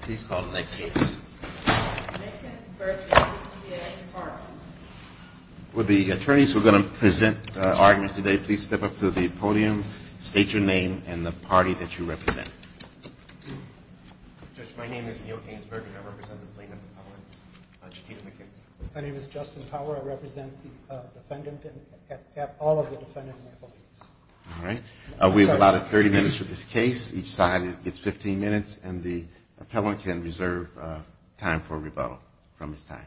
Please call the next case. Will the attorneys who are going to present arguments today please step up to the podium, state your name and the party that you represent. My name is Neal Gainsburg and I represent the plaintiff, Chiquita McKins. My name is Justin Power. I represent the defendant and all of the defendants. All right. We have about 30 minutes for this case. Each side gets 15 minutes and the appellant can reserve time for rebuttal from his time.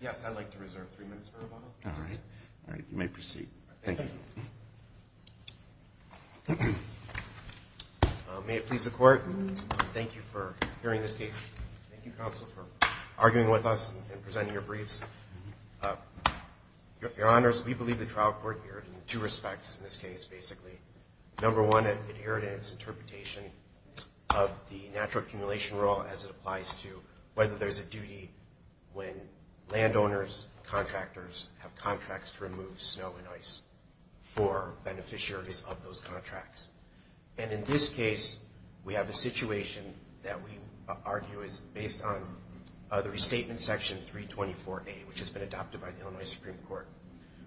Yes, I'd like to reserve three minutes for rebuttal. All right. You may proceed. Thank you. May it please the Court, thank you for hearing this case. Thank you, counsel, for arguing with us and presenting your briefs. Your Honors, we believe the trial court erred in two respects in this case, basically. Number one, it erred in its interpretation of the natural accumulation rule as it applies to whether there's a duty when landowners, contractors have contracts to remove snow and ice for beneficiaries of those contracts. And in this case, we have a situation that we argue is based on the restatement section 324A, which has been adopted by the Illinois Supreme Court,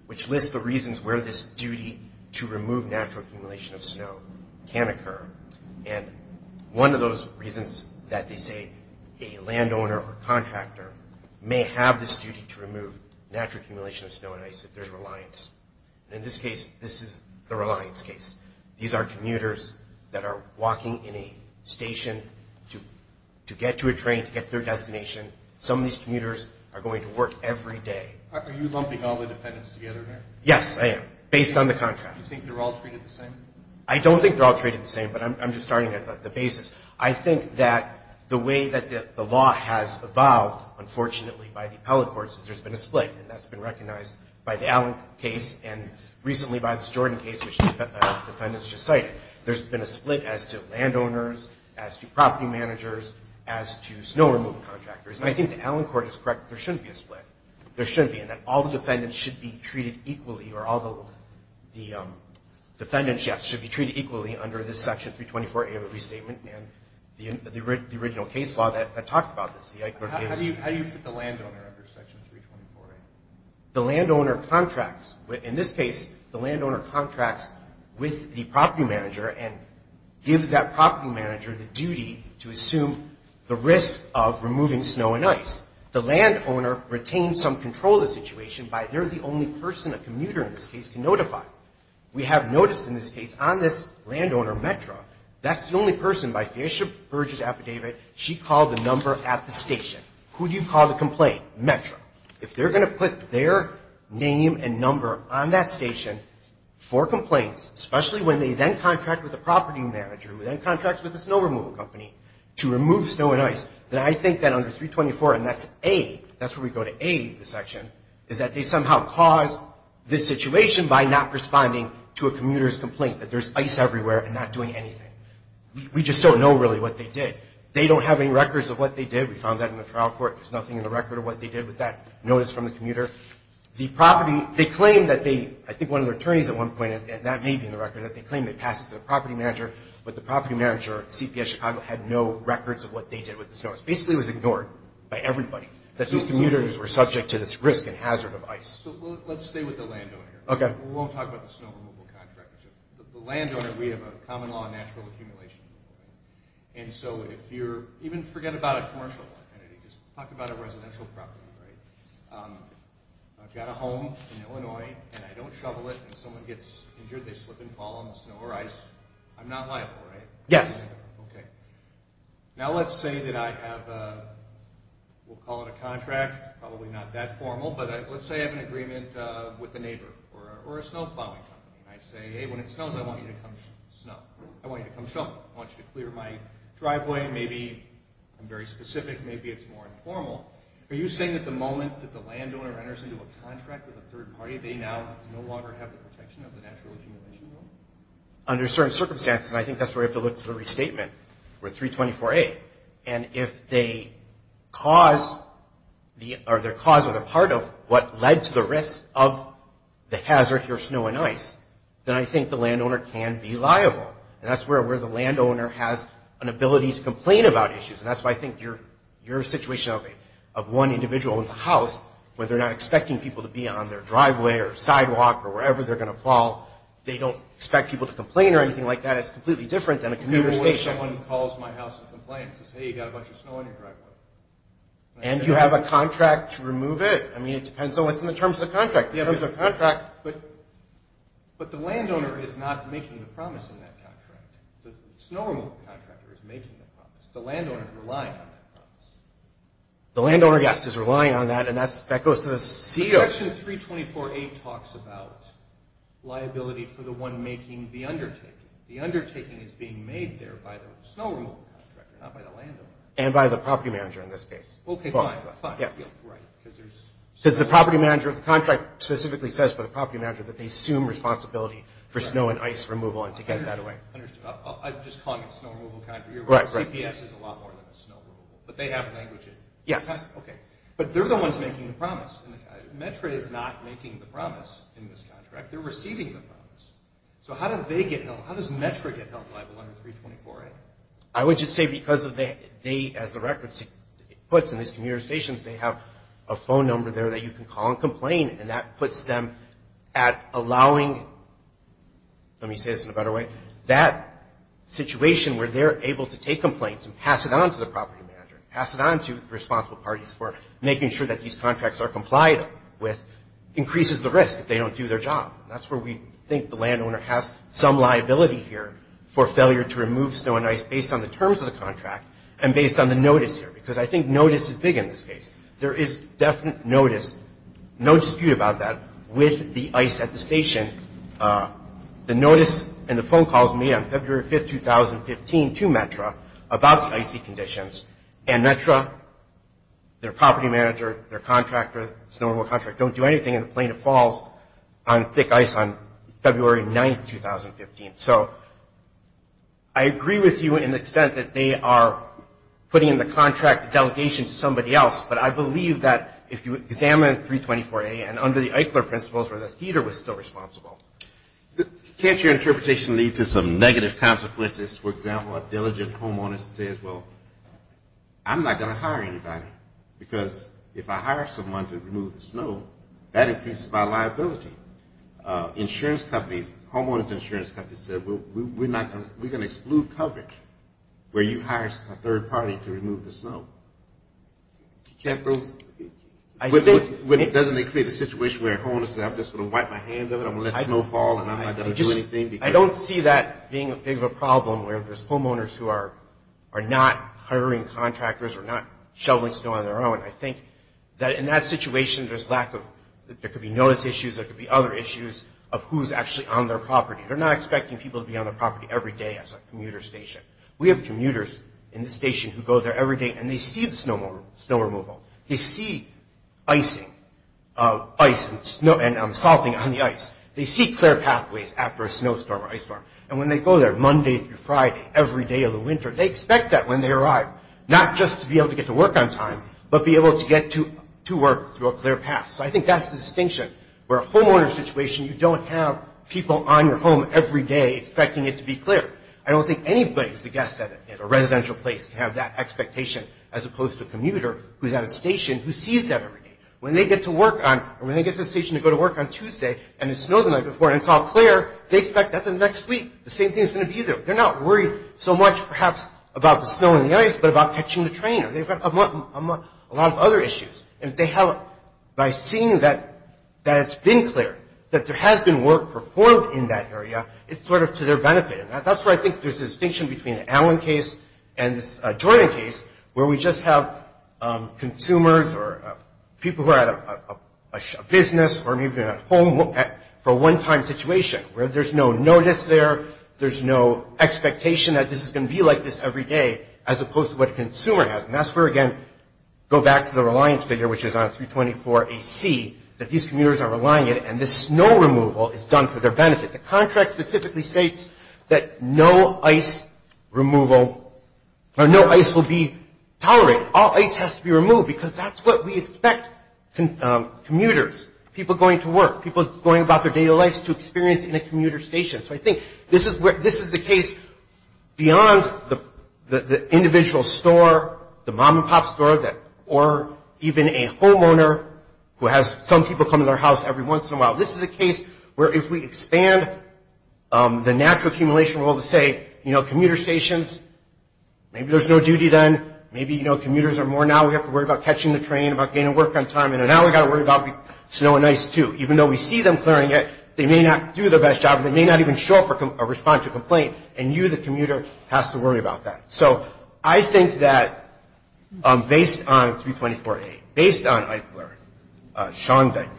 which lists the reasons where this duty to remove natural accumulation of snow can occur. And one of those reasons that they say a landowner or contractor may have this duty to remove natural accumulation of snow and ice if there's reliance. And in this case, this is the reliance case. These are commuters that are walking in a station to get to a train, to get to their destination. Some of these commuters are going to work every day. Are you lumping all the defendants together here? Yes, I am, based on the contract. Do you think they're all treated the same? I don't think they're all treated the same, but I'm just starting at the basis. I think that the way that the law has evolved, unfortunately, by the appellate courts, is there's been a split, and that's been recognized by the Allen case and recently by this Jordan case, which the defendants just cited. There's been a split as to landowners, as to property managers, as to snow removal contractors. And I think the Allen court is correct. There shouldn't be a split. There shouldn't be, and that all the defendants should be treated equally, or all the defendants, yes, should be treated equally under this section 324A of the restatement and the original case law that talked about this. How do you fit the landowner under section 324A? The landowner contracts. In this case, the landowner contracts with the property manager and gives that property manager the duty to assume the risk of removing snow and ice. The landowner retains some control of the situation by they're the only person a commuter in this case can notify. We have noticed in this case on this landowner metro, that's the only person, she called the number at the station. Who do you call to complain? Metro. If they're going to put their name and number on that station for complaints, especially when they then contract with the property manager, who then contracts with the snow removal company to remove snow and ice, then I think that under 324, and that's A, that's where we go to A in this section, is that they somehow caused this situation by not responding to a commuter's complaint, that there's ice everywhere and not doing anything. We just don't know really what they did. They don't have any records of what they did. We found that in the trial court. There's nothing in the record of what they did with that notice from the commuter. The property, they claim that they, I think one of their attorneys at one point, and that may be in the record, that they claim they passed it to the property manager, but the property manager at CPS Chicago had no records of what they did with the snow. It basically was ignored by everybody, that these commuters were subject to this risk and hazard of ice. So let's stay with the landowner here. Okay. We won't talk about the snow removal contract. The landowner, we have a common law on natural accumulation. And so if you're, even forget about a commercial property. Just talk about a residential property, right? I've got a home in Illinois, and I don't shovel it. If someone gets injured, they slip and fall on the snow or ice. I'm not liable, right? Yes. Okay. Now let's say that I have a, we'll call it a contract, probably not that formal, but let's say I have an agreement with a neighbor or a snow plowing company. I say, hey, when it snows, I want you to come shovel. I want you to clear my driveway. Maybe I'm very specific. Maybe it's more informal. Are you saying that the moment that the landowner enters into a contract with a third party, they now no longer have the protection of the natural accumulation law? Under certain circumstances, and I think that's where we have to look for the restatement, with 324A. And if they cause or they're part of what led to the risk of the hazard here, snow and ice, then I think the landowner can be liable. And that's where the landowner has an ability to complain about issues. And that's why I think your situation of one individual in the house, where they're not expecting people to be on their driveway or sidewalk or wherever they're going to fall, they don't expect people to complain or anything like that is completely different than a commuter station. Anyone who calls my house and complains says, hey, you've got a bunch of snow on your driveway. And you have a contract to remove it. I mean, it depends on what's in the terms of the contract. In terms of the contract. But the landowner is not making the promise in that contract. The snow removal contractor is making the promise. The landowner is relying on that promise. The landowner, yes, is relying on that, and that goes to the CO. Section 324A talks about liability for the one making the undertaking. The undertaking is being made there by the snow removal contractor, not by the landowner. And by the property manager in this case. Okay, fine, fine. Yes. Right, because there's... Because the property manager of the contract specifically says for the property manager that they assume responsibility for snow and ice removal and to get that away. Understood. I'm just calling it a snow removal contract. Right, right. CPS is a lot more than a snow removal. But they have language in it. Yes. Okay. But they're the ones making the promise. METRA is not making the promise in this contract. They're receiving the promise. So how do they get help? How does METRA get help under 324A? I would just say because they, as the record puts in these communications, they have a phone number there that you can call and complain. And that puts them at allowing, let me say this in a better way, that situation where they're able to take complaints and pass it on to the property manager, pass it on to the responsible parties for making sure that these contracts are complied with, increases the risk if they don't do their job. That's where we think the landowner has some liability here for failure to remove snow and ice based on the terms of the contract and based on the notice here. Because I think notice is big in this case. There is definite notice, no dispute about that, with the ice at the station. The notice and the phone calls made on February 5, 2015, to METRA about the icy conditions. And METRA, their property manager, their contractor, snow removal contractor, don't do anything in the Plain of Falls on thick ice on February 9, 2015. So I agree with you in the extent that they are putting in the contract delegation to somebody else, but I believe that if you examine 324A and under the Eichler principles where the theater was still responsible. Can't your interpretation lead to some negative consequences? For example, a diligent homeowner says, well, I'm not going to hire anybody because if I hire someone to remove the snow, that increases my liability. Insurance companies, homeowners insurance companies say, well, we're going to exclude coverage where you hire a third party to remove the snow. Doesn't it create a situation where a homeowner says, I'm just going to wipe my hands of it, I'm going to let snow fall and I'm not going to do anything? I don't see that being a big of a problem where there's homeowners who are not hiring contractors or not shoveling snow on their own. I think that in that situation, there's lack of, there could be notice issues, there could be other issues of who's actually on their property. They're not expecting people to be on their property every day as a commuter station. We have commuters in this station who go there every day and they see the snow removal. They see icing, ice and snow and salting on the ice. They see clear pathways after a snowstorm or ice storm. And when they go there Monday through Friday, every day of the winter, they expect that when they arrive. Not just to be able to get to work on time, but be able to get to work through a clear path. So I think that's the distinction where a homeowner situation, you don't have people on your home every day expecting it to be clear. I don't think anybody who's a guest at a residential place can have that expectation as opposed to a commuter who's at a station who sees that every day. When they get to work on, or when they get to the station to go to work on Tuesday and it snows the night before and it's all clear, they expect that the next week, the same thing is going to be there. They're not worried so much, perhaps, about the snow and the ice, but about catching the train. They've got a lot of other issues. And if they have, by seeing that it's been clear, that there has been work performed in that area, it's sort of to their benefit. And that's where I think there's a distinction between the Allen case and this Jordan case, where we just have consumers or people who are at a business or maybe at home for a one-time situation where there's no notice there, there's no expectation that this is going to be like this every day as opposed to what a consumer has. And that's where, again, go back to the reliance figure, which is on 324AC, that these commuters are relying on it and this snow removal is done for their benefit. The contract specifically states that no ice removal or no ice will be tolerated. All ice has to be removed because that's what we expect commuters, people going to work, people going about their daily lives to experience in a commuter station. So I think this is the case beyond the individual store, the mom-and-pop store, or even a homeowner who has some people come to their house every once in a while. This is a case where if we expand the natural accumulation rule to say, you know, commuter stations, maybe there's no duty then, maybe, you know, commuters are more now, we have to worry about catching the train, about getting to work on time, and now we've got to worry about snow and ice, too. Even though we see them clearing it, they may not do their best job, they may not even show up or respond to a complaint, and you, the commuter, has to worry about that. So I think that based on 324A, based on Eichler, Schoenbeck,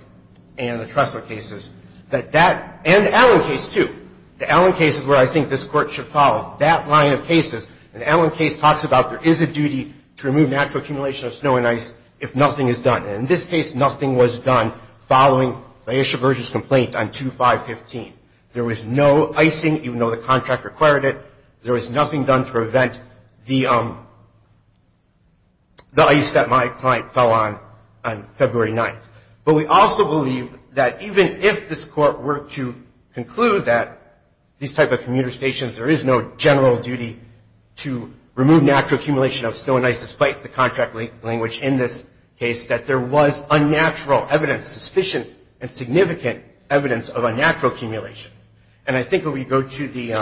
and the Tressler cases, that that, and the Allen case, too, the Allen case is where I think this Court should follow. That line of cases, the Allen case talks about there is a duty to remove natural accumulation of snow and ice if nothing is done. And in this case, nothing was done following Laisha Berger's complaint on 2515. There was no icing, even though the contract required it. There was nothing done to prevent the ice that my client fell on on February 9th. But we also believe that even if this Court were to conclude that these type of commuter stations, there is no general duty to remove natural accumulation of snow and ice, despite the contract language in this case, that there was unnatural evidence, sufficient and significant evidence of unnatural accumulation. And I think when we go to the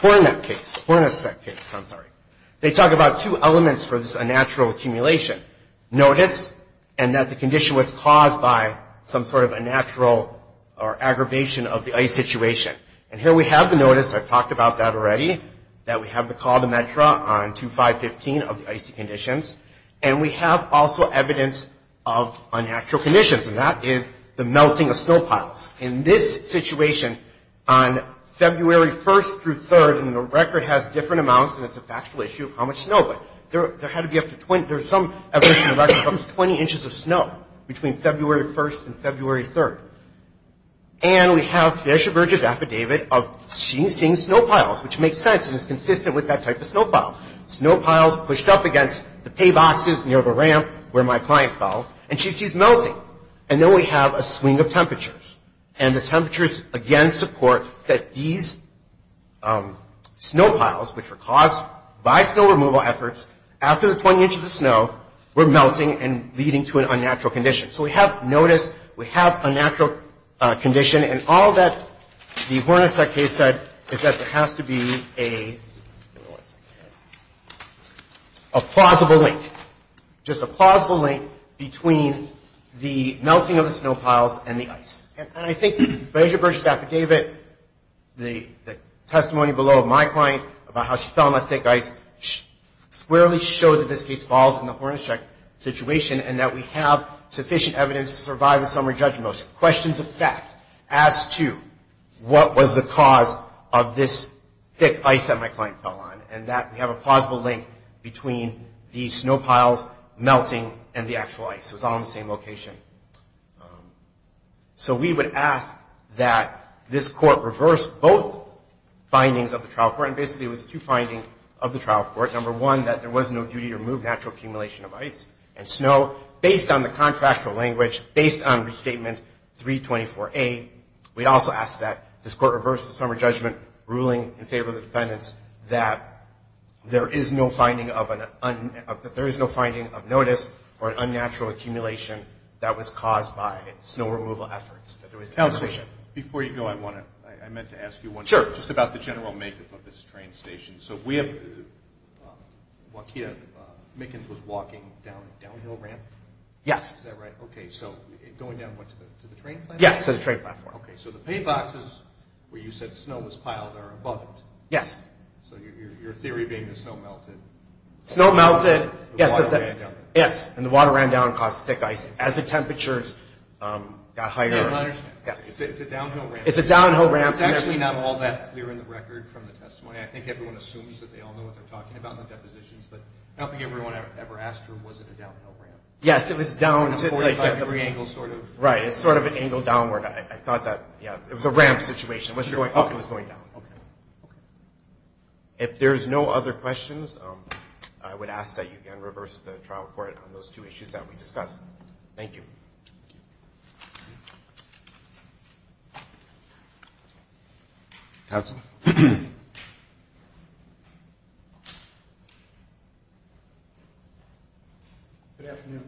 Hornacek case, they talk about two elements for this unnatural accumulation. Notice, and that the condition was caused by some sort of unnatural or aggravation of the ice situation. And here we have the notice. I've talked about that already, that we have the call to METRA on 2515 of the icy conditions. And we have also evidence of unnatural conditions, and that is the melting of snow piles. In this situation, on February 1st through 3rd, and the record has different amounts, and it's a factual issue of how much snow, but there had to be up to 20. There's some evidence in the record from 20 inches of snow between February 1st and February 3rd. And we have Trisha Burgess' affidavit of seeing snow piles, which makes sense and is consistent with that type of snow pile. Snow piles pushed up against the pay boxes near the ramp where my client fell, and she sees melting. And then we have a swing of temperatures. And the temperatures, again, support that these snow piles, which were caused by snow removal efforts, after the 20 inches of snow were melting and leading to an unnatural condition. So we have notice. We have a natural condition. And all that the Hornacek case said is that there has to be a plausible link, just a plausible link between the melting of the snow piles and the ice. And I think that Trisha Burgess' affidavit, the testimony below of my client about how she fell on the thick ice, squarely shows that this case falls in the Hornacek situation and that we have sufficient evidence to survive a summary judgment motion. Questions of fact as to what was the cause of this thick ice that my client fell on and that we have a plausible link between the snow piles melting and the actual ice. It was all in the same location. So we would ask that this Court reverse both findings of the trial court. And basically, it was the two findings of the trial court. Number one, that there was no duty to remove natural accumulation of ice and snow. Based on the contractual language, based on Restatement 324A, we also ask that this Court reverse the summary judgment ruling in favor of the defendants that there is no finding of notice or unnatural accumulation that was caused by snow removal efforts. Counselor, before you go, I meant to ask you one thing. Sure. Just about the general makeup of this train station. So Waukea-Mickens was walking down a downhill ramp? Yes. Is that right? Okay. So going down what, to the train platform? Yes, to the train platform. Okay. So the pay boxes where you said snow was piled are above it. Yes. So your theory being the snow melted. Snow melted. Yes. And the water ran down. Yes. And the water ran down and caused thick ice. Yes. As the temperatures got higher. I don't understand. Yes. It's a downhill ramp. It's a downhill ramp. It's actually not all that clear in the record from the testimony. I think everyone assumes that they all know what they're talking about in the depositions, but I don't think everyone ever asked her was it a downhill ramp. Yes. It was down to the 45-degree angle sort of. Right. It's sort of an angle downward. I thought that, yeah, it was a ramp situation. It was going up. It was going down. Okay. those two issues that we discussed. Thank you. Thank you. Thank you. Thank you. Thank you. Thank you. Thank you. Thank you. Counsel. Good afternoon.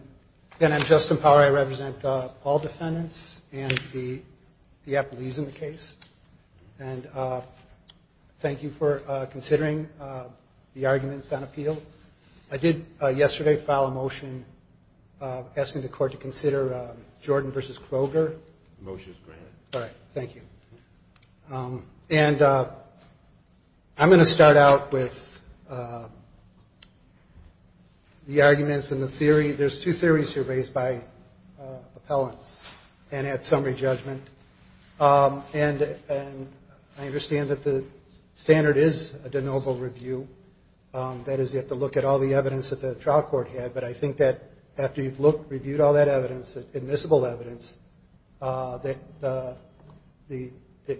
Again, I'm Justin Power. I represent all defendants and the apologies in the case. And thank you for considering the arguments on appeal. I did yesterday file a motion asking the court to consider Jordan v. Kroger. The motion is granted. All right. Thank you. And I'm going to start out with the arguments and the theory. There's two theories here raised by appellants and at summary judgment. And I understand that the standard is a de novo review. That is, you have to look at all the evidence that the trial court had. But I think that after you've looked, reviewed all that evidence, admissible evidence, that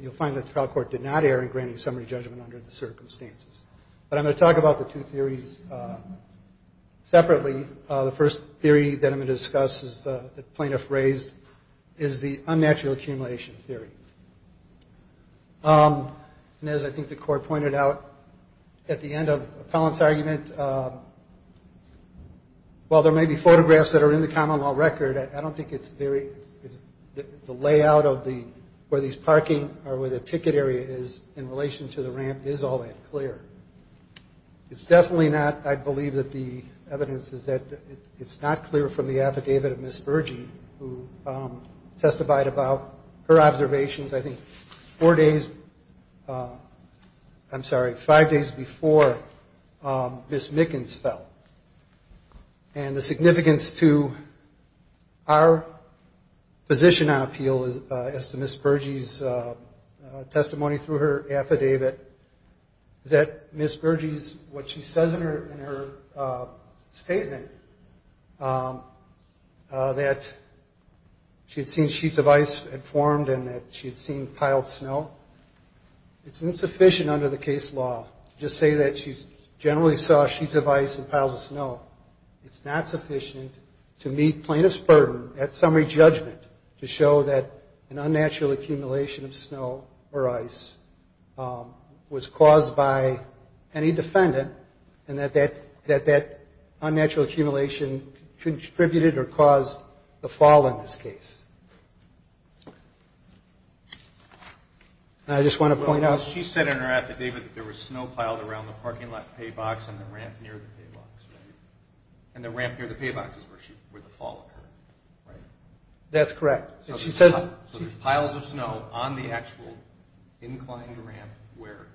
you'll find that the trial court did not err in granting summary judgment under the circumstances. But I'm going to talk about the two theories separately. The first theory that I'm going to discuss that the plaintiff raised is the unnatural accumulation theory. And as I think the court pointed out at the end of the appellant's argument, while there may be photographs that are in the common law record, I don't think it's very the layout of where these parking or where the ticket area is in relation to the ramp is all that clear. It's definitely not, I believe, that the evidence is that it's not clear from the affidavit of Ms. Spurgey, who testified about her observations I think four days, I'm sorry, five days before Ms. Mickens fell. And the significance to our position on appeal is to Ms. Spurgey's testimony through her affidavit that Ms. Spurgey's, what she says in her statement, that she had seen sheets of ice had formed and that she had seen piled snow. It's insufficient under the case law to just say that she generally saw sheets of ice and piles of snow. It's not sufficient to meet plaintiff's burden at summary judgment to show that an unnatural accumulation of snow or ice was caused by any defendant and that that unnatural accumulation contributed or caused the fall in this case. And I just want to point out. She said in her affidavit that there was snow piled around the parking lot pay box and the ramp near the pay box, right? And the ramp near the pay box is where the fall occurred, right? That's correct. So there's piles of snow on the actual inclined ramp where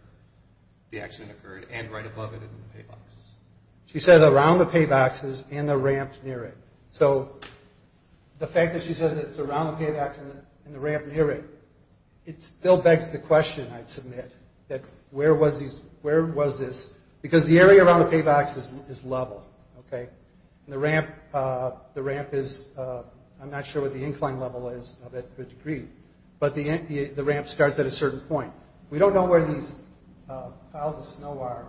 the accident occurred and right above it in the pay boxes. She says around the pay boxes and the ramp near it. So the fact that she says it's around the pay box and the ramp near it, it still begs the question, I'd submit, that where was this? Because the area around the pay box is level, okay? And the ramp is, I'm not sure what the incline level is of that degree, but the ramp starts at a certain point. We don't know where these piles of snow are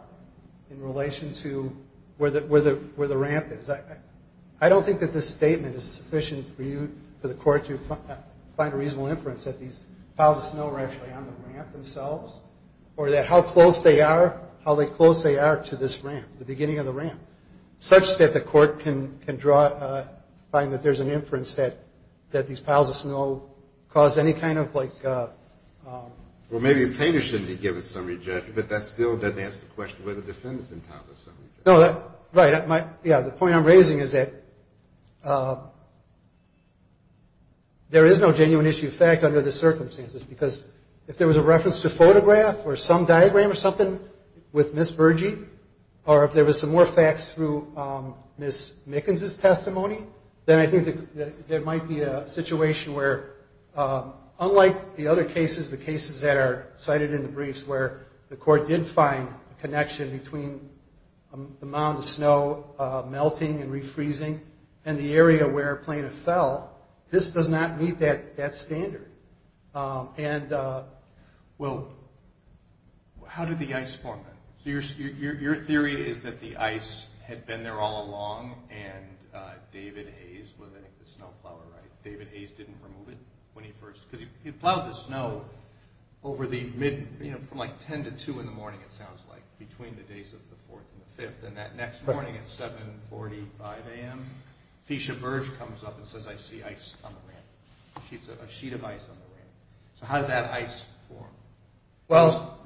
in relation to where the ramp is. I don't think that this statement is sufficient for the court to find a reasonable inference that these piles of snow were actually on the ramp themselves or that how close they are, how close they are to this ramp, the beginning of the ramp, such that the court can draw, find that there's an inference that these piles of snow caused any kind of like... Well, maybe a painter shouldn't be given summary judgment, but that still doesn't ask the question whether the defendant's entitled to summary judgment. No, that, right. Yeah, the point I'm raising is that there is no genuine issue of fact under the circumstances because if there was a reference to photograph or some diagram or something with Ms. Bergey, or if there was some more facts through Ms. Mickens' testimony, then I think there might be a situation where, unlike the other cases, the cases that are cited in the briefs, where the court did find a connection between the amount of snow melting and refreezing and the area where Plano fell, this does not meet that standard. And, well, how did the ice form then? So your theory is that the ice had been there all along and David Hayes, well, I think the snow plower, right? David Hayes didn't remove it when he first... Because he plowed the snow over the mid, you know, from like 10 to 2 in the morning, it sounds like, between the days of the 4th and the 5th, and that next morning at 7.45 a.m., Feisha Berge comes up and says, I see ice on the ramp, a sheet of ice on the ramp. So how did that ice form? Well,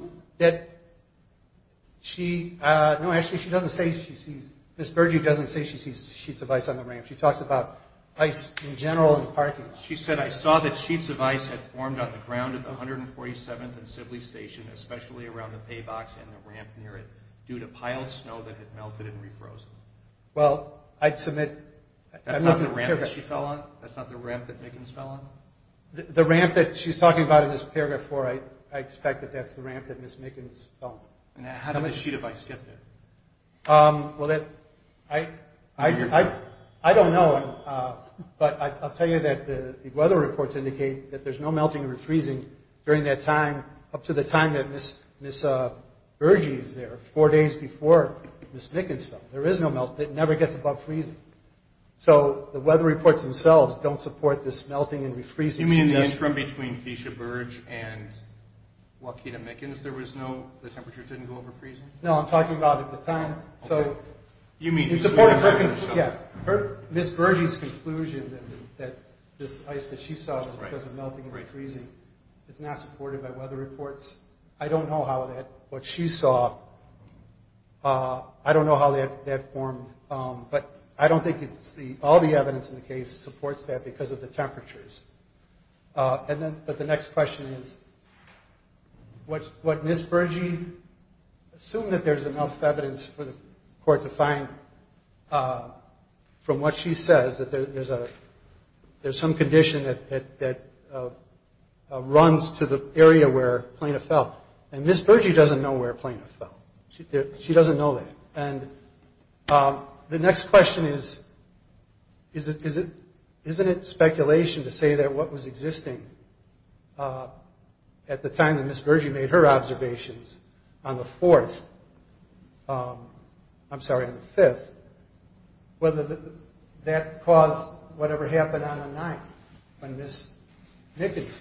she... No, actually, she doesn't say she sees... Ms. Bergey doesn't say she sees sheets of ice on the ramp. She talks about ice in general in the parking lot. She said, I saw that sheets of ice had formed on the ground at the 147th and Sibley Station, especially around the pay box and the ramp near it due to piled snow that had melted and re-frozen. Well, I'd submit... That's not the ramp that she fell on? That's not the ramp that Mickens fell on? The ramp that she's talking about in this paragraph 4, I expect that that's the ramp that Ms. Mickens fell on. And how did the sheet of ice get there? Well, I don't know, but I'll tell you that the weather reports indicate that there's no melting or freezing during that time up to the time that Ms. Bergey is there, four days before Ms. Mickens fell. There is no melting. It never gets above freezing. So the weather reports themselves don't support this melting and re-freezing. You mean in the interim between Feisha Berge and Joaquina Mickens, there was no... The temperatures didn't go over freezing? No, I'm talking about at the time. Okay. You mean... Ms. Bergey's conclusion that this ice that she saw was because of melting and freezing is not supported by weather reports. I don't know how that... What she saw, I don't know how that formed, but I don't think all the evidence in the case supports that because of the temperatures. But the next question is, what Ms. Bergey... Assume that there's enough evidence for the court to find from what she says, that there's some condition that runs to the area where Plano fell. And Ms. Bergey doesn't know where Plano fell. She doesn't know that. And the next question is, isn't it speculation to say that what was existing at the time that Ms. Bergey made her observations, on the 4th, I'm sorry, on the 5th, whether that caused whatever happened on the 9th when Ms. Mickens...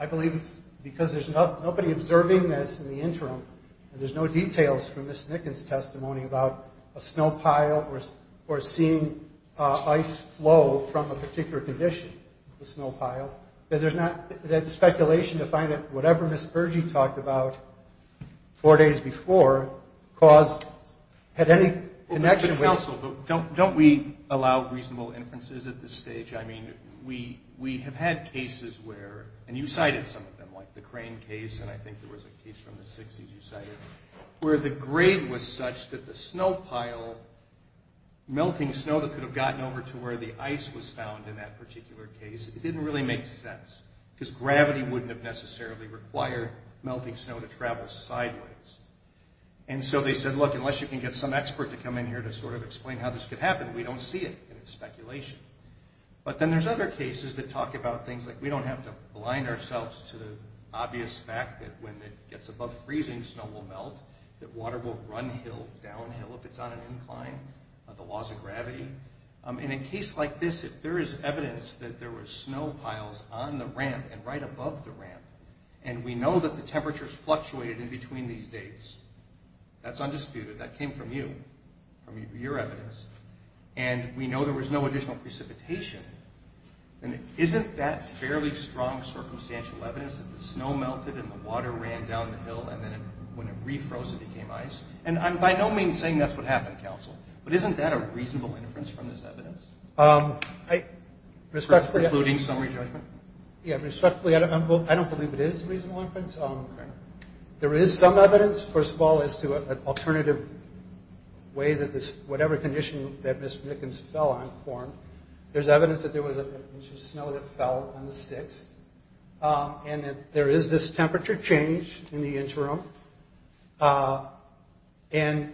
I believe it's because there's nobody observing this in the interim, and there's no details from Ms. Mickens' testimony about a snow pile or seeing ice flow from a particular condition, the snow pile, that there's not... That it's speculation to find that whatever Ms. Bergey talked about four days before had any connection with... Counsel, don't we allow reasonable inferences at this stage? I mean, we have had cases where... Where the grade was such that the snow pile, melting snow that could have gotten over to where the ice was found in that particular case, it didn't really make sense because gravity wouldn't have necessarily required melting snow to travel sideways. And so they said, look, unless you can get some expert to come in here to sort of explain how this could happen, we don't see it, and it's speculation. But then there's other cases that talk about things like we don't have to blind ourselves to the obvious fact that when it gets above freezing, snow will melt, that water will run downhill if it's on an incline, the laws of gravity. And in a case like this, if there is evidence that there were snow piles on the ramp and right above the ramp, and we know that the temperatures fluctuated in between these dates, that's undisputed. That came from you, from your evidence. And we know there was no additional precipitation. And isn't that fairly strong circumstantial evidence that the snow melted and the water ran downhill, and then when it refroze, it became ice? And I'm by no means saying that's what happened, counsel. But isn't that a reasonable inference from this evidence? I... Respectfully... Including summary judgment? Yeah, respectfully, I don't believe it is a reasonable inference. There is some evidence, first of all, as to an alternative way that this... There's evidence that there was an inch of snow that fell on the 6th, and that there is this temperature change in the interim, and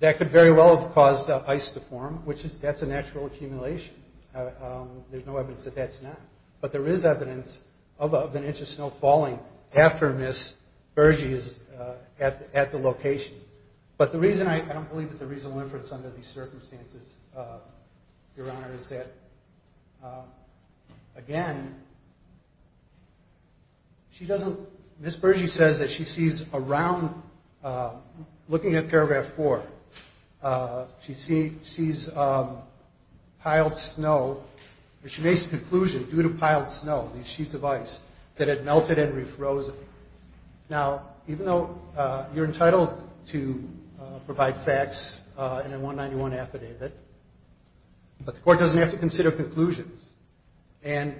that could very well have caused ice to form, which is... That's a natural accumulation. There's no evidence that that's not. But there is evidence of an inch of snow falling after Ms. Bergey is at the location. But the reason I don't believe it's a reasonable inference under these circumstances, Your Honor, is that, again, she doesn't... Ms. Bergey says that she sees around... Looking at paragraph 4, she sees piled snow... She makes the conclusion, due to piled snow, these sheets of ice, that had melted and refrozen. Now, even though you're entitled to provide facts in a 191 affidavit, but the court doesn't have to consider conclusions. No,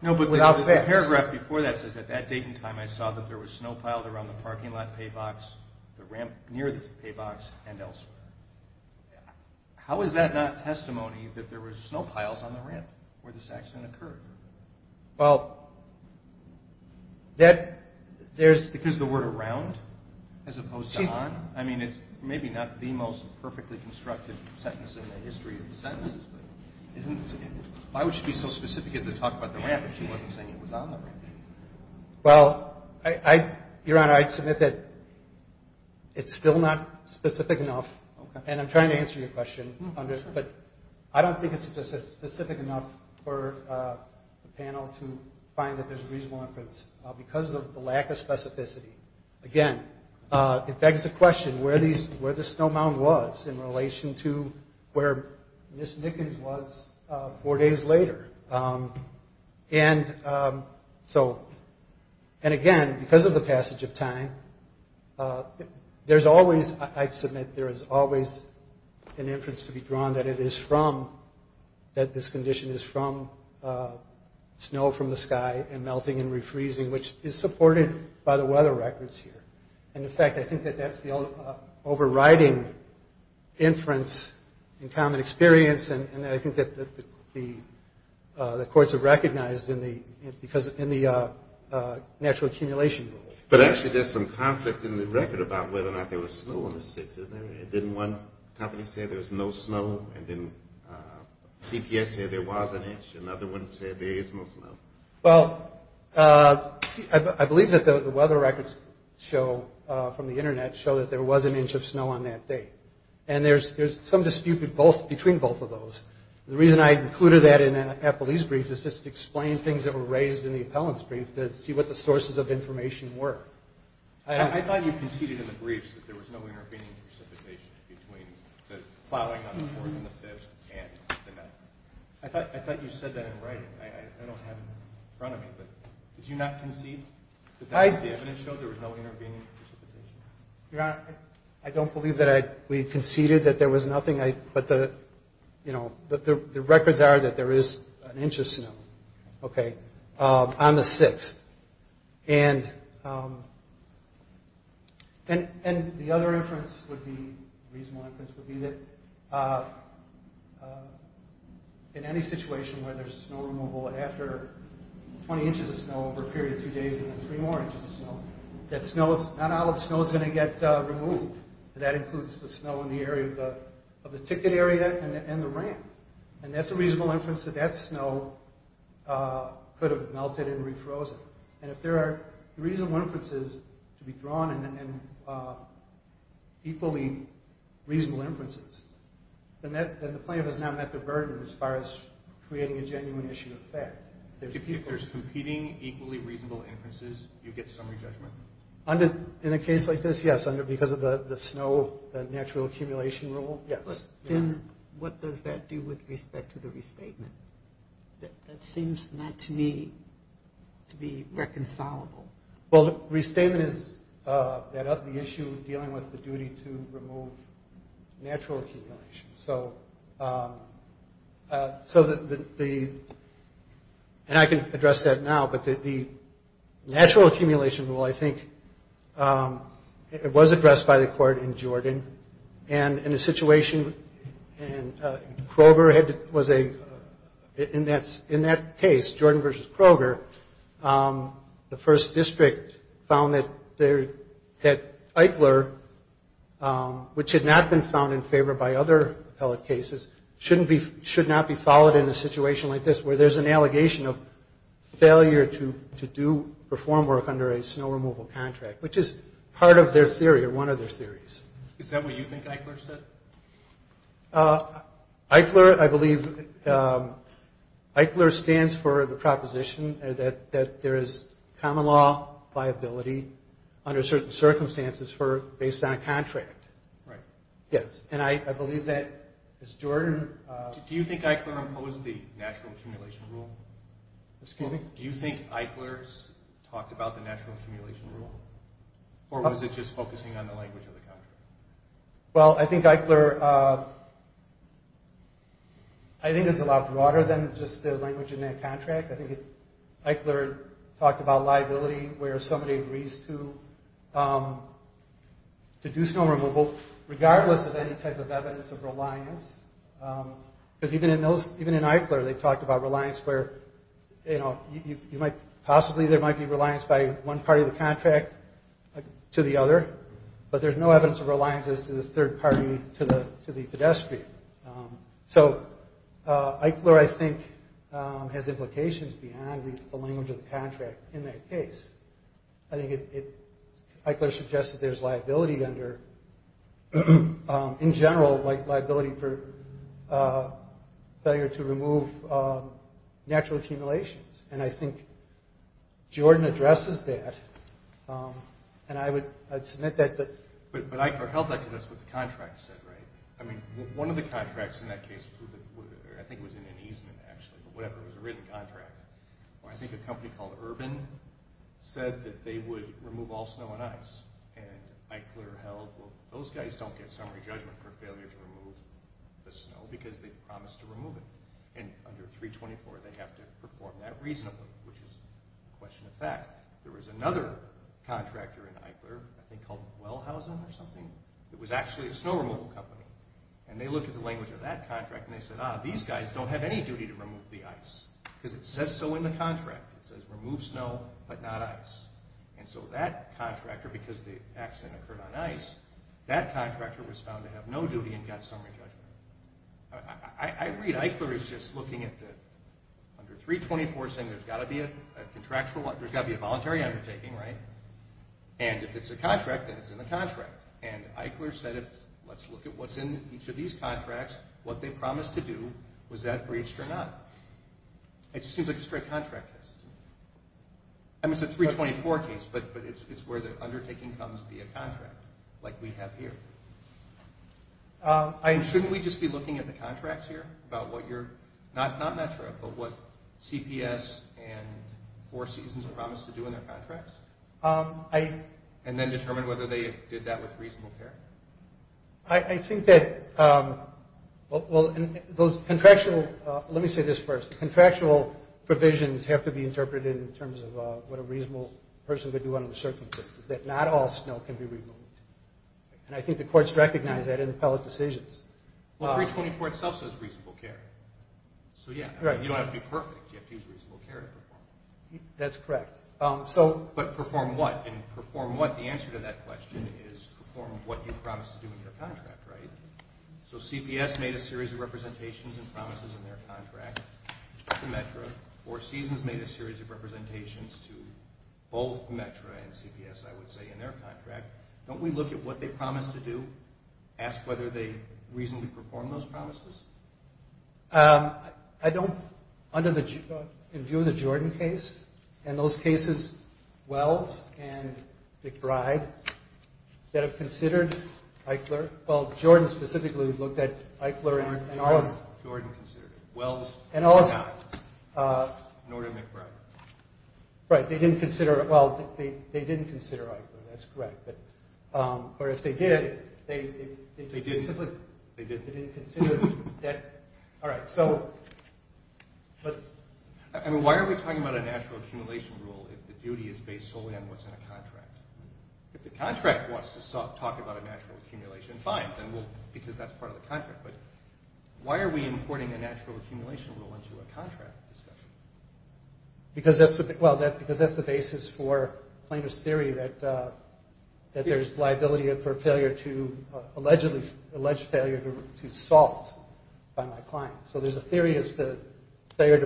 but the paragraph before that says, at that date and time I saw that there was snow piled around the parking lot pay box, the ramp near the pay box, and elsewhere. How is that not testimony that there was snow piles on the ramp where this accident occurred? Well, there's... Because the word around as opposed to on? I mean, it's maybe not the most perfectly constructed sentence in the history of sentences, but why would she be so specific as to talk about the ramp if she wasn't saying it was on the ramp? Well, Your Honor, I'd submit that it's still not specific enough, and I'm trying to answer your question, but I don't think it's specific enough for the panel to find that there's reasonable inference. Because of the lack of specificity, again, it begs the question, where this snow mound was in relation to where Ms. Nickens was four days later. And so... And again, because of the passage of time, there's always... to be drawn that it is from, that this condition is from snow from the sky and melting and refreezing, which is supported by the weather records here. And in fact, I think that that's the overriding inference in common experience, and I think that the courts have recognized in the natural accumulation rule. But actually, there's some conflict in the record about whether or not there was snow on the 6th. Didn't one company say there was no snow? And then CPS said there was an inch. Another one said there is no snow. Well, I believe that the weather records show, from the Internet, show that there was an inch of snow on that day. And there's some dispute between both of those. The reason I included that in Applee's brief is just to explain things that were raised in the appellant's brief to see what the sources of information were. I thought you conceded in the briefs that there was no intervening precipitation between the plowing on the 4th and the 5th and the 9th. I thought you said that in writing. I don't have it in front of me. But did you not concede that the evidence showed there was no intervening precipitation? Your Honor, I don't believe that we conceded that there was nothing. But the records are that there is an inch of snow on the 6th. And the other inference would be, reasonable inference, would be that in any situation where there's snow removal after 20 inches of snow over a period of two days and then three more inches of snow, that not all of the snow is going to get removed. That includes the snow in the area of the ticket area and the ramp. And that's a reasonable inference that that snow could have melted and refrozen. And if there are reasonable inferences to be drawn and equally reasonable inferences, then the plaintiff has now met the burden as far as creating a genuine issue of fact. If there's competing, equally reasonable inferences, you get summary judgment? In a case like this, yes, because of the snow, the natural accumulation rule, yes. Then what does that do with respect to the restatement? That seems not to me to be reconcilable. Well, restatement is the issue dealing with the duty to remove natural accumulation. So the – and I can address that now. But the natural accumulation rule, I think, it was addressed by the court in Jordan. And in a situation – and Kroger was a – in that case, Jordan versus Kroger, the first district found that Eichler, which had not been found in favor by other appellate cases, should not be followed in a situation like this where there's an allegation of failure to do reform work under a snow removal contract, which is part of their theory or one of their theories. Is that what you think Eichler said? Eichler, I believe – Eichler stands for the proposition that there is common law viability under certain circumstances for – based on a contract. Right. Yes. And I believe that, as Jordan – Do you think Eichler opposed the natural accumulation rule? Excuse me? Do you think Eichler talked about the natural accumulation rule? Or was it just focusing on the language of the contract? Well, I think Eichler – I think it's a lot broader than just the language in that contract. I think Eichler talked about liability where somebody agrees to do snow removal regardless of any type of evidence of reliance. Because even in those – even in Eichler, they talked about reliance where, you know, you might – possibly there might be reliance by one party of the contract to the other, but there's no evidence of reliance as to the third party to the pedestrian. So Eichler, I think, has implications beyond the language of the contract in that case. I think it – Eichler suggested there's liability under – in general, like liability for failure to remove natural accumulations. And I think Jordan addresses that. And I would – I'd submit that – But Eichler held that because that's what the contract said, right? I mean, one of the contracts in that case, I think it was in an easement actually, but whatever, it was a written contract, where I think a company called Urban said that they would remove all snow and ice. And Eichler held, well, those guys don't get summary judgment for failure to remove the snow because they promised to remove it. And under 324, they have to perform that reasonably, which is a question of fact. There was another contractor in Eichler, I think called Wellhausen or something, that was actually a snow removal company. And they looked at the language of that contract and they said, ah, these guys don't have any duty to remove the ice. Because it says so in the contract. It says remove snow but not ice. And so that contractor, because the accident occurred on ice, that contractor was found to have no duty and got summary judgment. I read Eichler is just looking at the – under 324 saying there's got to be a contractual – there's got to be a voluntary undertaking, right? And if it's a contract, then it's in the contract. And Eichler said, let's look at what's in each of these contracts, what they promised to do, was that breached or not? It just seems like a straight contract test. I mean, it's a 324 case, but it's where the undertaking comes via contract, like we have here. Shouldn't we just be looking at the contracts here about what you're – not Metro, but what CPS and Four Seasons promised to do in their contracts? And then determine whether they did that with reasonable care? I think that – well, those contractual – let me say this first. Contractual provisions have to be interpreted in terms of what a reasonable person could do under the circumstances, that not all snow can be removed. And I think the courts recognize that in appellate decisions. Well, 324 itself says reasonable care. So, yeah, you don't have to be perfect. You have to use reasonable care to perform. That's correct. But perform what? And perform what? The answer to that question is perform what you promised to do in your contract, right? So CPS made a series of representations and promises in their contract to Metro. Four Seasons made a series of representations to both Metro and CPS, I would say, in their contract. Don't we look at what they promised to do, ask whether they reasonably performed those promises? I don't – under the – in view of the Jordan case and those cases, Wells and McBride that have considered Eichler – well, Jordan specifically looked at Eichler and Wells. Jordan considered it. Wells and McBride. And also – Norton and McBride. Right. They didn't consider – well, they didn't consider Eichler. That's correct. But – or if they did, they – They did. They did. They didn't consider that. All right. So – I mean, why are we talking about a natural accumulation rule if the duty is based solely on what's in a contract? If the contract wants to talk about a natural accumulation, fine. Then we'll – because that's part of the contract. But why are we importing a natural accumulation rule into a contract discussion? Because that's – well, because that's the basis for claimant's theory that there's liability for failure to – allegedly – alleged failure to salt by my client. So there's a theory as to failure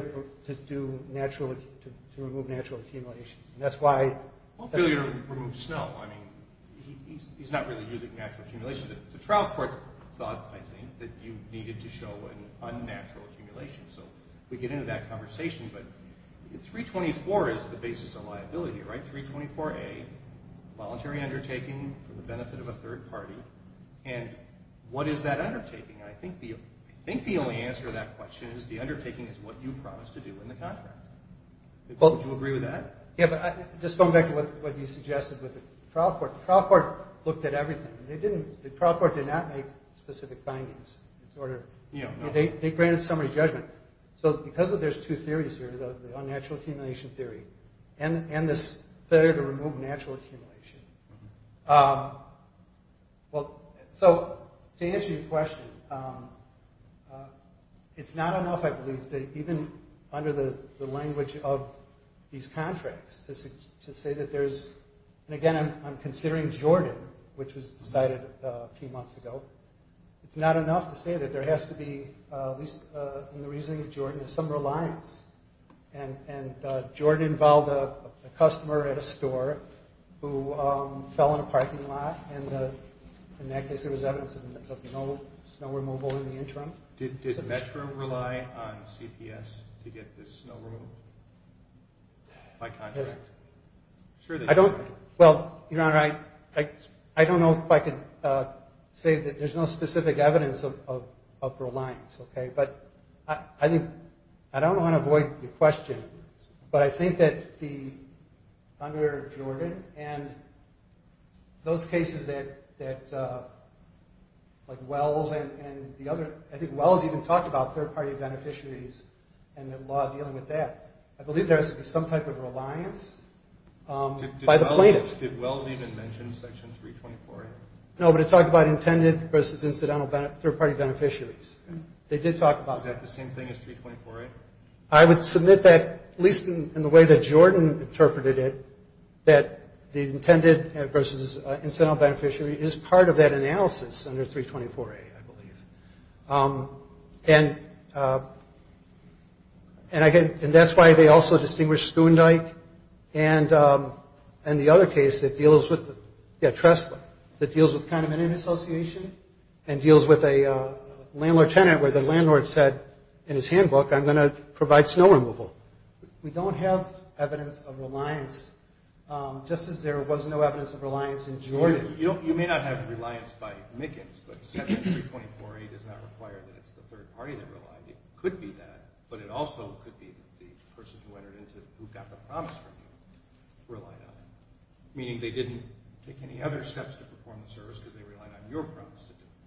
to do natural – to remove natural accumulation. And that's why – Well, failure to remove snow. I mean, he's not really using natural accumulation. The trial court thought, I think, that you needed to show an unnatural accumulation. So we get into that conversation. But 324 is the basis of liability, right? 324A, voluntary undertaking for the benefit of a third party. And what is that undertaking? And I think the only answer to that question is the undertaking is what you promised to do in the contract. Would you agree with that? Yeah, but just going back to what you suggested with the trial court. The trial court looked at everything. They didn't – the trial court did not make specific findings. It's sort of – they granted summary judgment. So because there's two theories here, the unnatural accumulation theory and this failure to remove natural accumulation. Well, so to answer your question, it's not enough, I believe, that even under the language of these contracts to say that there's – and again, I'm considering Jordan, which was decided a few months ago. It's not enough to say that there has to be, at least in the reasoning of Jordan, some reliance. And Jordan involved a customer at a store who fell in a parking lot. And in that case, there was evidence of no snow removal in the interim. Did Metro rely on CPS to get this snow removal by contract? I don't – well, Your Honor, I don't know if I can say that there's no specific evidence of reliance, okay? But I think – I don't want to avoid the question, but I think that the – under Jordan and those cases that, like, Wells and the other – I think Wells even talked about third-party beneficiaries and the law dealing with that. I believe there is some type of reliance by the plaintiff. Did Wells even mention Section 324? No, but it talked about intended versus incidental third-party beneficiaries. They did talk about that. Is that the same thing as 324A? I would submit that, at least in the way that Jordan interpreted it, that the intended versus incidental beneficiary is part of that analysis under 324A, I believe. And I – and that's why they also distinguished Schoondyke and the other case that deals with – yeah, Tresler, that deals with kind of an in-association and deals with a landlord-tenant where the landlord said in his handbook, I'm going to provide snow removal. We don't have evidence of reliance, just as there was no evidence of reliance in Jordan. You may not have reliance by Mickens, but Section 324A does not require that it's the third party that relied. It could be that, but it also could be the person who entered into – who got the promise from you relied on it, meaning they didn't take any other steps to perform the service because they relied on your promise to do it.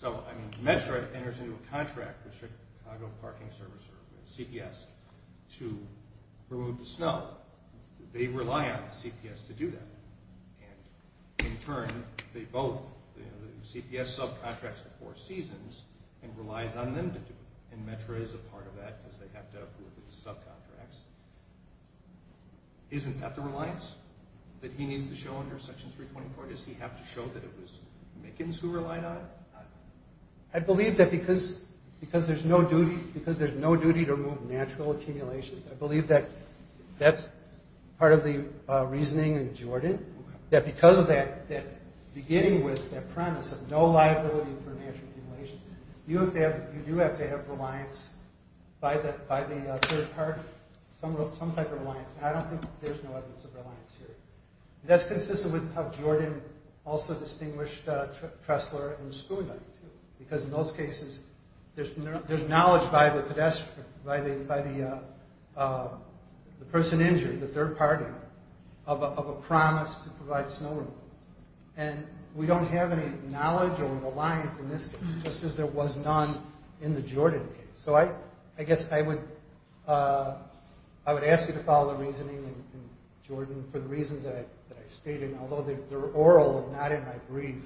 So, I mean, METRA enters into a contract with Chicago Parking Service, or CPS, to remove the snow. They rely on CPS to do that. And in turn, they both – CPS subcontracts the four seasons and relies on them to do it, and METRA is a part of that because they have to approve the subcontracts. Isn't that the reliance that he needs to show under Section 324? Does he have to show that it was Mickens who relied on it? I believe that because there's no duty to remove natural accumulations, I believe that that's part of the reasoning in Jordan, that because of that, that beginning with that premise of no liability for natural accumulation, you do have to have reliance by the third party, some type of reliance, and I don't think there's no evidence of reliance here. That's consistent with how Jordan also distinguished Tressler and Schooner, because in those cases, there's knowledge by the pedestrian, by the person injured, the third party, of a promise to provide snow removal. And we don't have any knowledge or reliance in this case, just as there was none in the Jordan case. So I guess I would ask you to follow the reasoning in Jordan for the reasons that I stated, and although they're oral and not in my brief,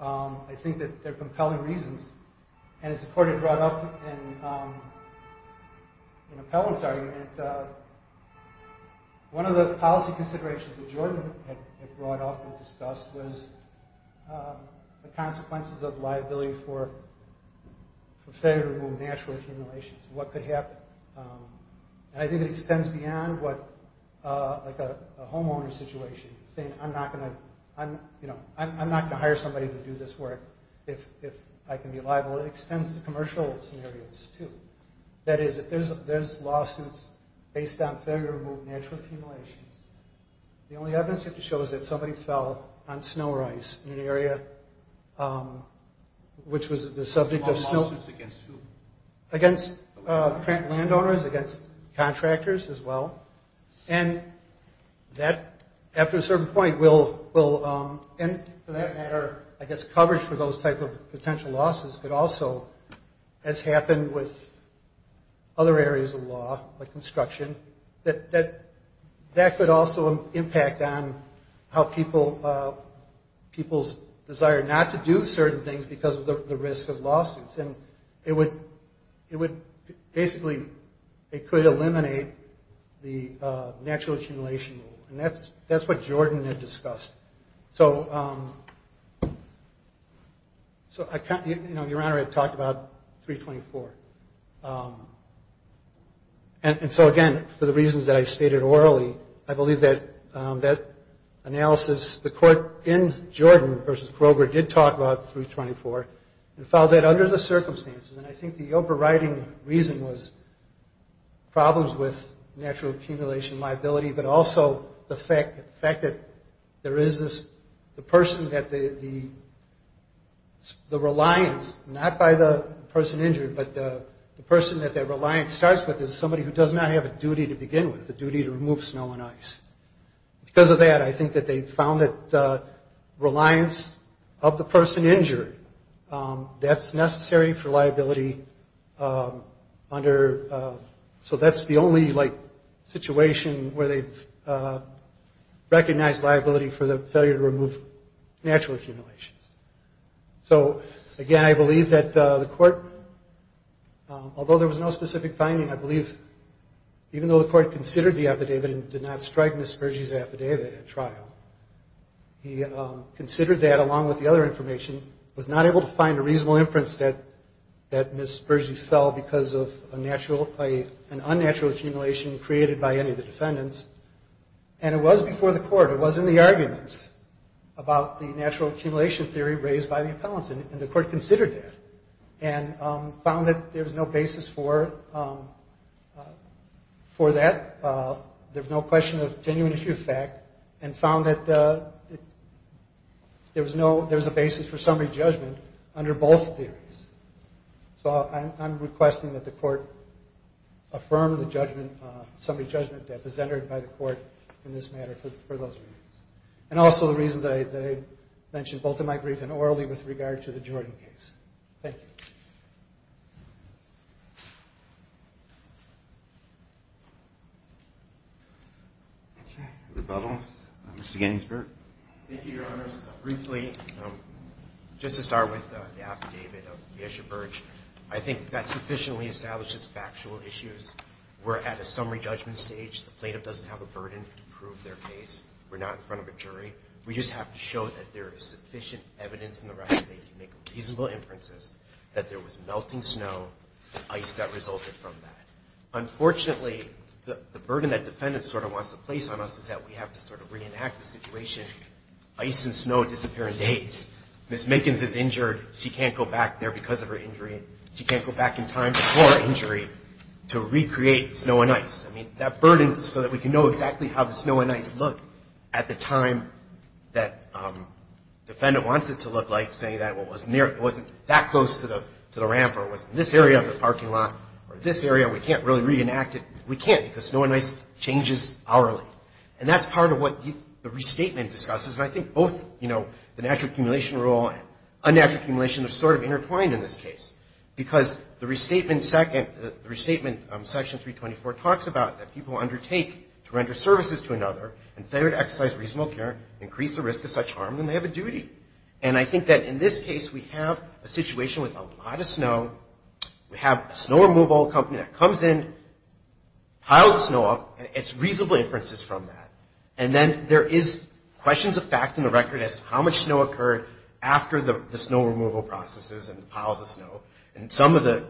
I think that they're compelling reasons, and as the court had brought up in Appellant's argument, one of the policy considerations that Jordan had brought up and discussed was the consequences of liability for failure to remove natural accumulations. What could happen? And I think it extends beyond a homeowner situation, saying I'm not going to hire somebody to do this work if I can be liable. It extends to commercial scenarios, too. That is, if there's lawsuits based on failure to remove natural accumulations, the only evidence you have to show is that somebody fell on snow or ice in an area, which was the subject of snow. Lawsuits against who? Against landowners, against contractors as well. And that, after a certain point, will end, for that matter, I guess coverage for those type of potential losses, but also, as happened with other areas of law, like construction, that could also impact on how people's desire not to do certain things because of the risk of lawsuits, and basically it could eliminate the natural accumulation rule, and that's what Jordan had discussed. So, Your Honor, I talked about 324. And so, again, for the reasons that I stated orally, I believe that analysis, the court in Jordan versus Kroger did talk about 324 and found that under the circumstances, and I think the overriding reason was problems with natural accumulation liability, but also the fact that there is this person that the reliance, not by the person injured, but the person that that reliance starts with is somebody who does not have a duty to begin with, a duty to remove snow and ice. Because of that, I think that they found that reliance of the person injured, that's necessary for liability under, so that's the only situation where they've recognized liability for the failure to remove natural accumulations. So, again, I believe that the court, although there was no specific finding, I believe even though the court considered the affidavit and did not strike Ms. Spurgey's affidavit at trial, he considered that along with the other information, was not able to find a reasonable inference that Ms. Spurgey fell because of a natural, an unnatural accumulation created by any of the defendants, and it was before the court, it was in the arguments about the natural accumulation theory raised by the appellants, and the court considered that and found that there was no basis for that, there was no question of genuine issue of fact, and found that there was a basis for summary judgment under both theories. So I'm requesting that the court affirm the summary judgment that was entered by the court in this matter for those reasons, and also the reasons that I mentioned both in my brief and orally with regard to the Jordan case. Thank you. Okay. Rebuttal. Mr. Gainsbourg. Thank you, Your Honors. Briefly, just to start with the affidavit of Yesha Burge, I think that sufficiently establishes factual issues. We're at a summary judgment stage. The plaintiff doesn't have a burden to prove their case. We're not in front of a jury. We just have to show that there is sufficient evidence in the record that they can make reasonable inferences that there was melting snow and ice that resulted from that. Unfortunately, the burden that defendant sort of wants to place on us is that we have to sort of reenact the situation. Ice and snow disappear in days. Ms. Minkins is injured. She can't go back there because of her injury. She can't go back in time before her injury to recreate snow and ice. I mean, that burden is so that we can know exactly how the snow and ice looked at the time that defendant wants it to look like, saying that, well, it wasn't that close to the ramp or it was in this area of the parking lot or this area. We can't really reenact it. We can't because snow and ice changes hourly. And that's part of what the restatement discusses. And I think both, you know, the natural accumulation rule and unnatural accumulation are sort of intertwined in this case because the restatement section 324 talks about that people undertake to render services to another and failure to exercise reasonable care increase the risk of such harm when they have a duty. And I think that in this case we have a situation with a lot of snow. We have a snow removal company that comes in, piles snow up, and it's reasonable inferences from that. And then there is questions of fact in the record as to how much snow occurred after the snow removal processes and the piles of snow. And some of the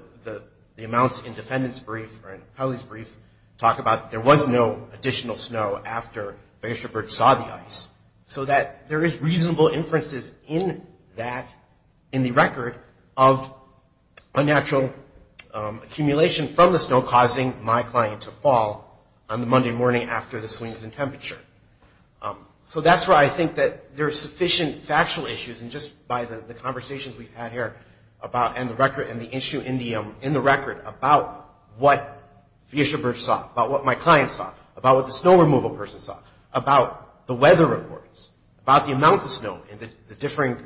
amounts in defendant's brief or in Kelly's brief talk about there was no additional snow after Fischer-Birch saw the ice. So that there is reasonable inferences in that, in the record, of unnatural accumulation from the snow causing my client to fall on the Monday morning after the swings in temperature. So that's where I think that there are sufficient factual issues and just by the conversations we've had here about and the record and the issue in the record about what Fischer-Birch saw, about what my client saw, about what the snow removal person saw, about the weather reports, about the amount of snow and the differing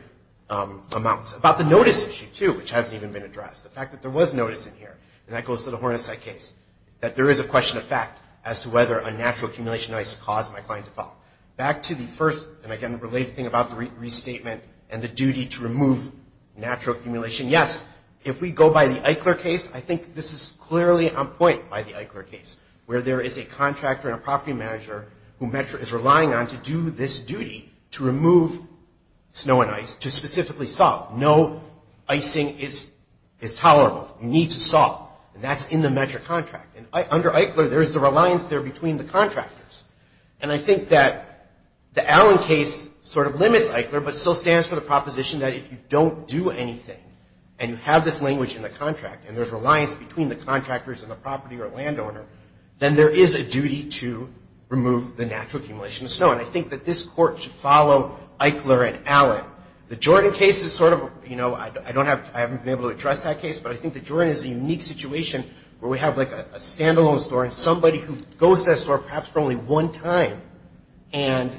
amounts, about the notice issue, too, which hasn't even been addressed. The fact that there was notice in here, and that goes to the Hornetside case, that there is a question of fact as to whether unnatural accumulation of ice caused my client to fall. Back to the first, and again, related thing about the restatement and the duty to remove natural accumulation. Yes, if we go by the Eichler case, I think this is clearly on point by the Eichler case, where there is a contractor and a property manager who Metro is relying on to do this duty, to remove snow and ice, to specifically salt. No icing is tolerable. You need to salt, and that's in the Metro contract. And under Eichler, there's the reliance there between the contractors. And I think that the Allen case sort of limits Eichler but still stands for the proposition that if you don't do anything and you have this language in the contract and there's reliance between the contractors and the property or landowner, then there is a duty to remove the natural accumulation of snow. And I think that this Court should follow Eichler and Allen. The Jordan case is sort of, you know, I don't have to – I haven't been able to address that case, but I think the Jordan is a unique situation where we have like a stand-alone story, somebody who goes to that store perhaps for only one time, and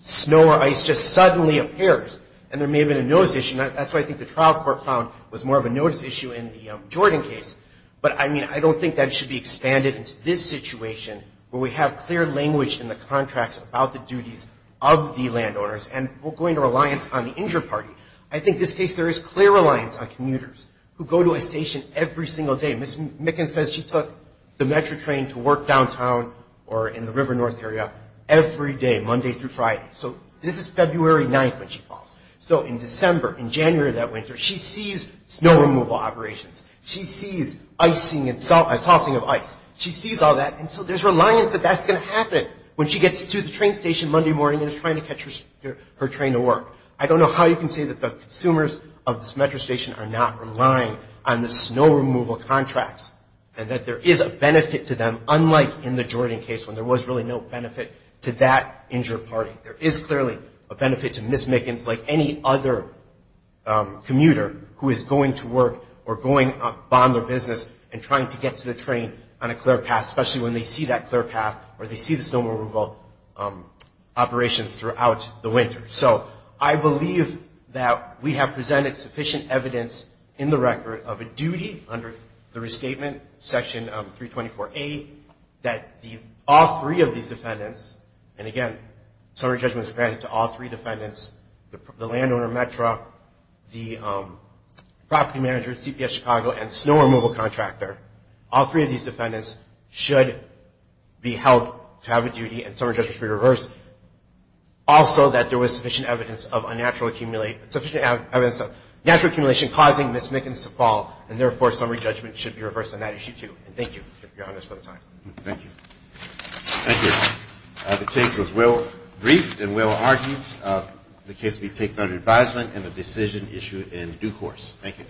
snow or ice just suddenly appears. And there may have been a notice issue. And that's why I think the trial court found was more of a notice issue in the Jordan case. But, I mean, I don't think that should be expanded into this situation where we have clear language in the contracts about the duties of the landowners, and we're going to reliance on the injured party. I think in this case there is clear reliance on commuters who go to a station every single day. Ms. Micken says she took the Metro train to work downtown or in the River North area every day, Monday through Friday. So this is February 9th when she calls. So in December, in January of that winter, she sees snow removal operations. She sees icing and tossing of ice. She sees all that. And so there's reliance that that's going to happen when she gets to the train station Monday morning and is trying to catch her train to work. I don't know how you can say that the consumers of this Metro station are not relying on the snow removal contracts and that there is a benefit to them, unlike in the Jordan case when there was really no benefit to that injured party. There is clearly a benefit to Ms. Mickens like any other commuter who is going to work or going to bond their business and trying to get to the train on a clear path, especially when they see that clear path or they see the snow removal operations throughout the winter. So I believe that we have presented sufficient evidence in the record of a duty under the restatement, Section 324A, that all three of these defendants, and again, summary judgment is granted to all three defendants, the landowner in Metro, the property manager at CPS Chicago, and snow removal contractor, all three of these defendants should be held to have a duty and summary judgment should be reversed. Also, that there was sufficient evidence of unnatural accumulate, sufficient evidence of natural accumulation causing Ms. Mickens to fall, and therefore, summary judgment should be reversed on that issue too. And thank you, Your Honor, for the time. Thank you. Thank you. The case was well briefed and well argued. The case will be taken under advisement and the decision issued in due course. Thank you.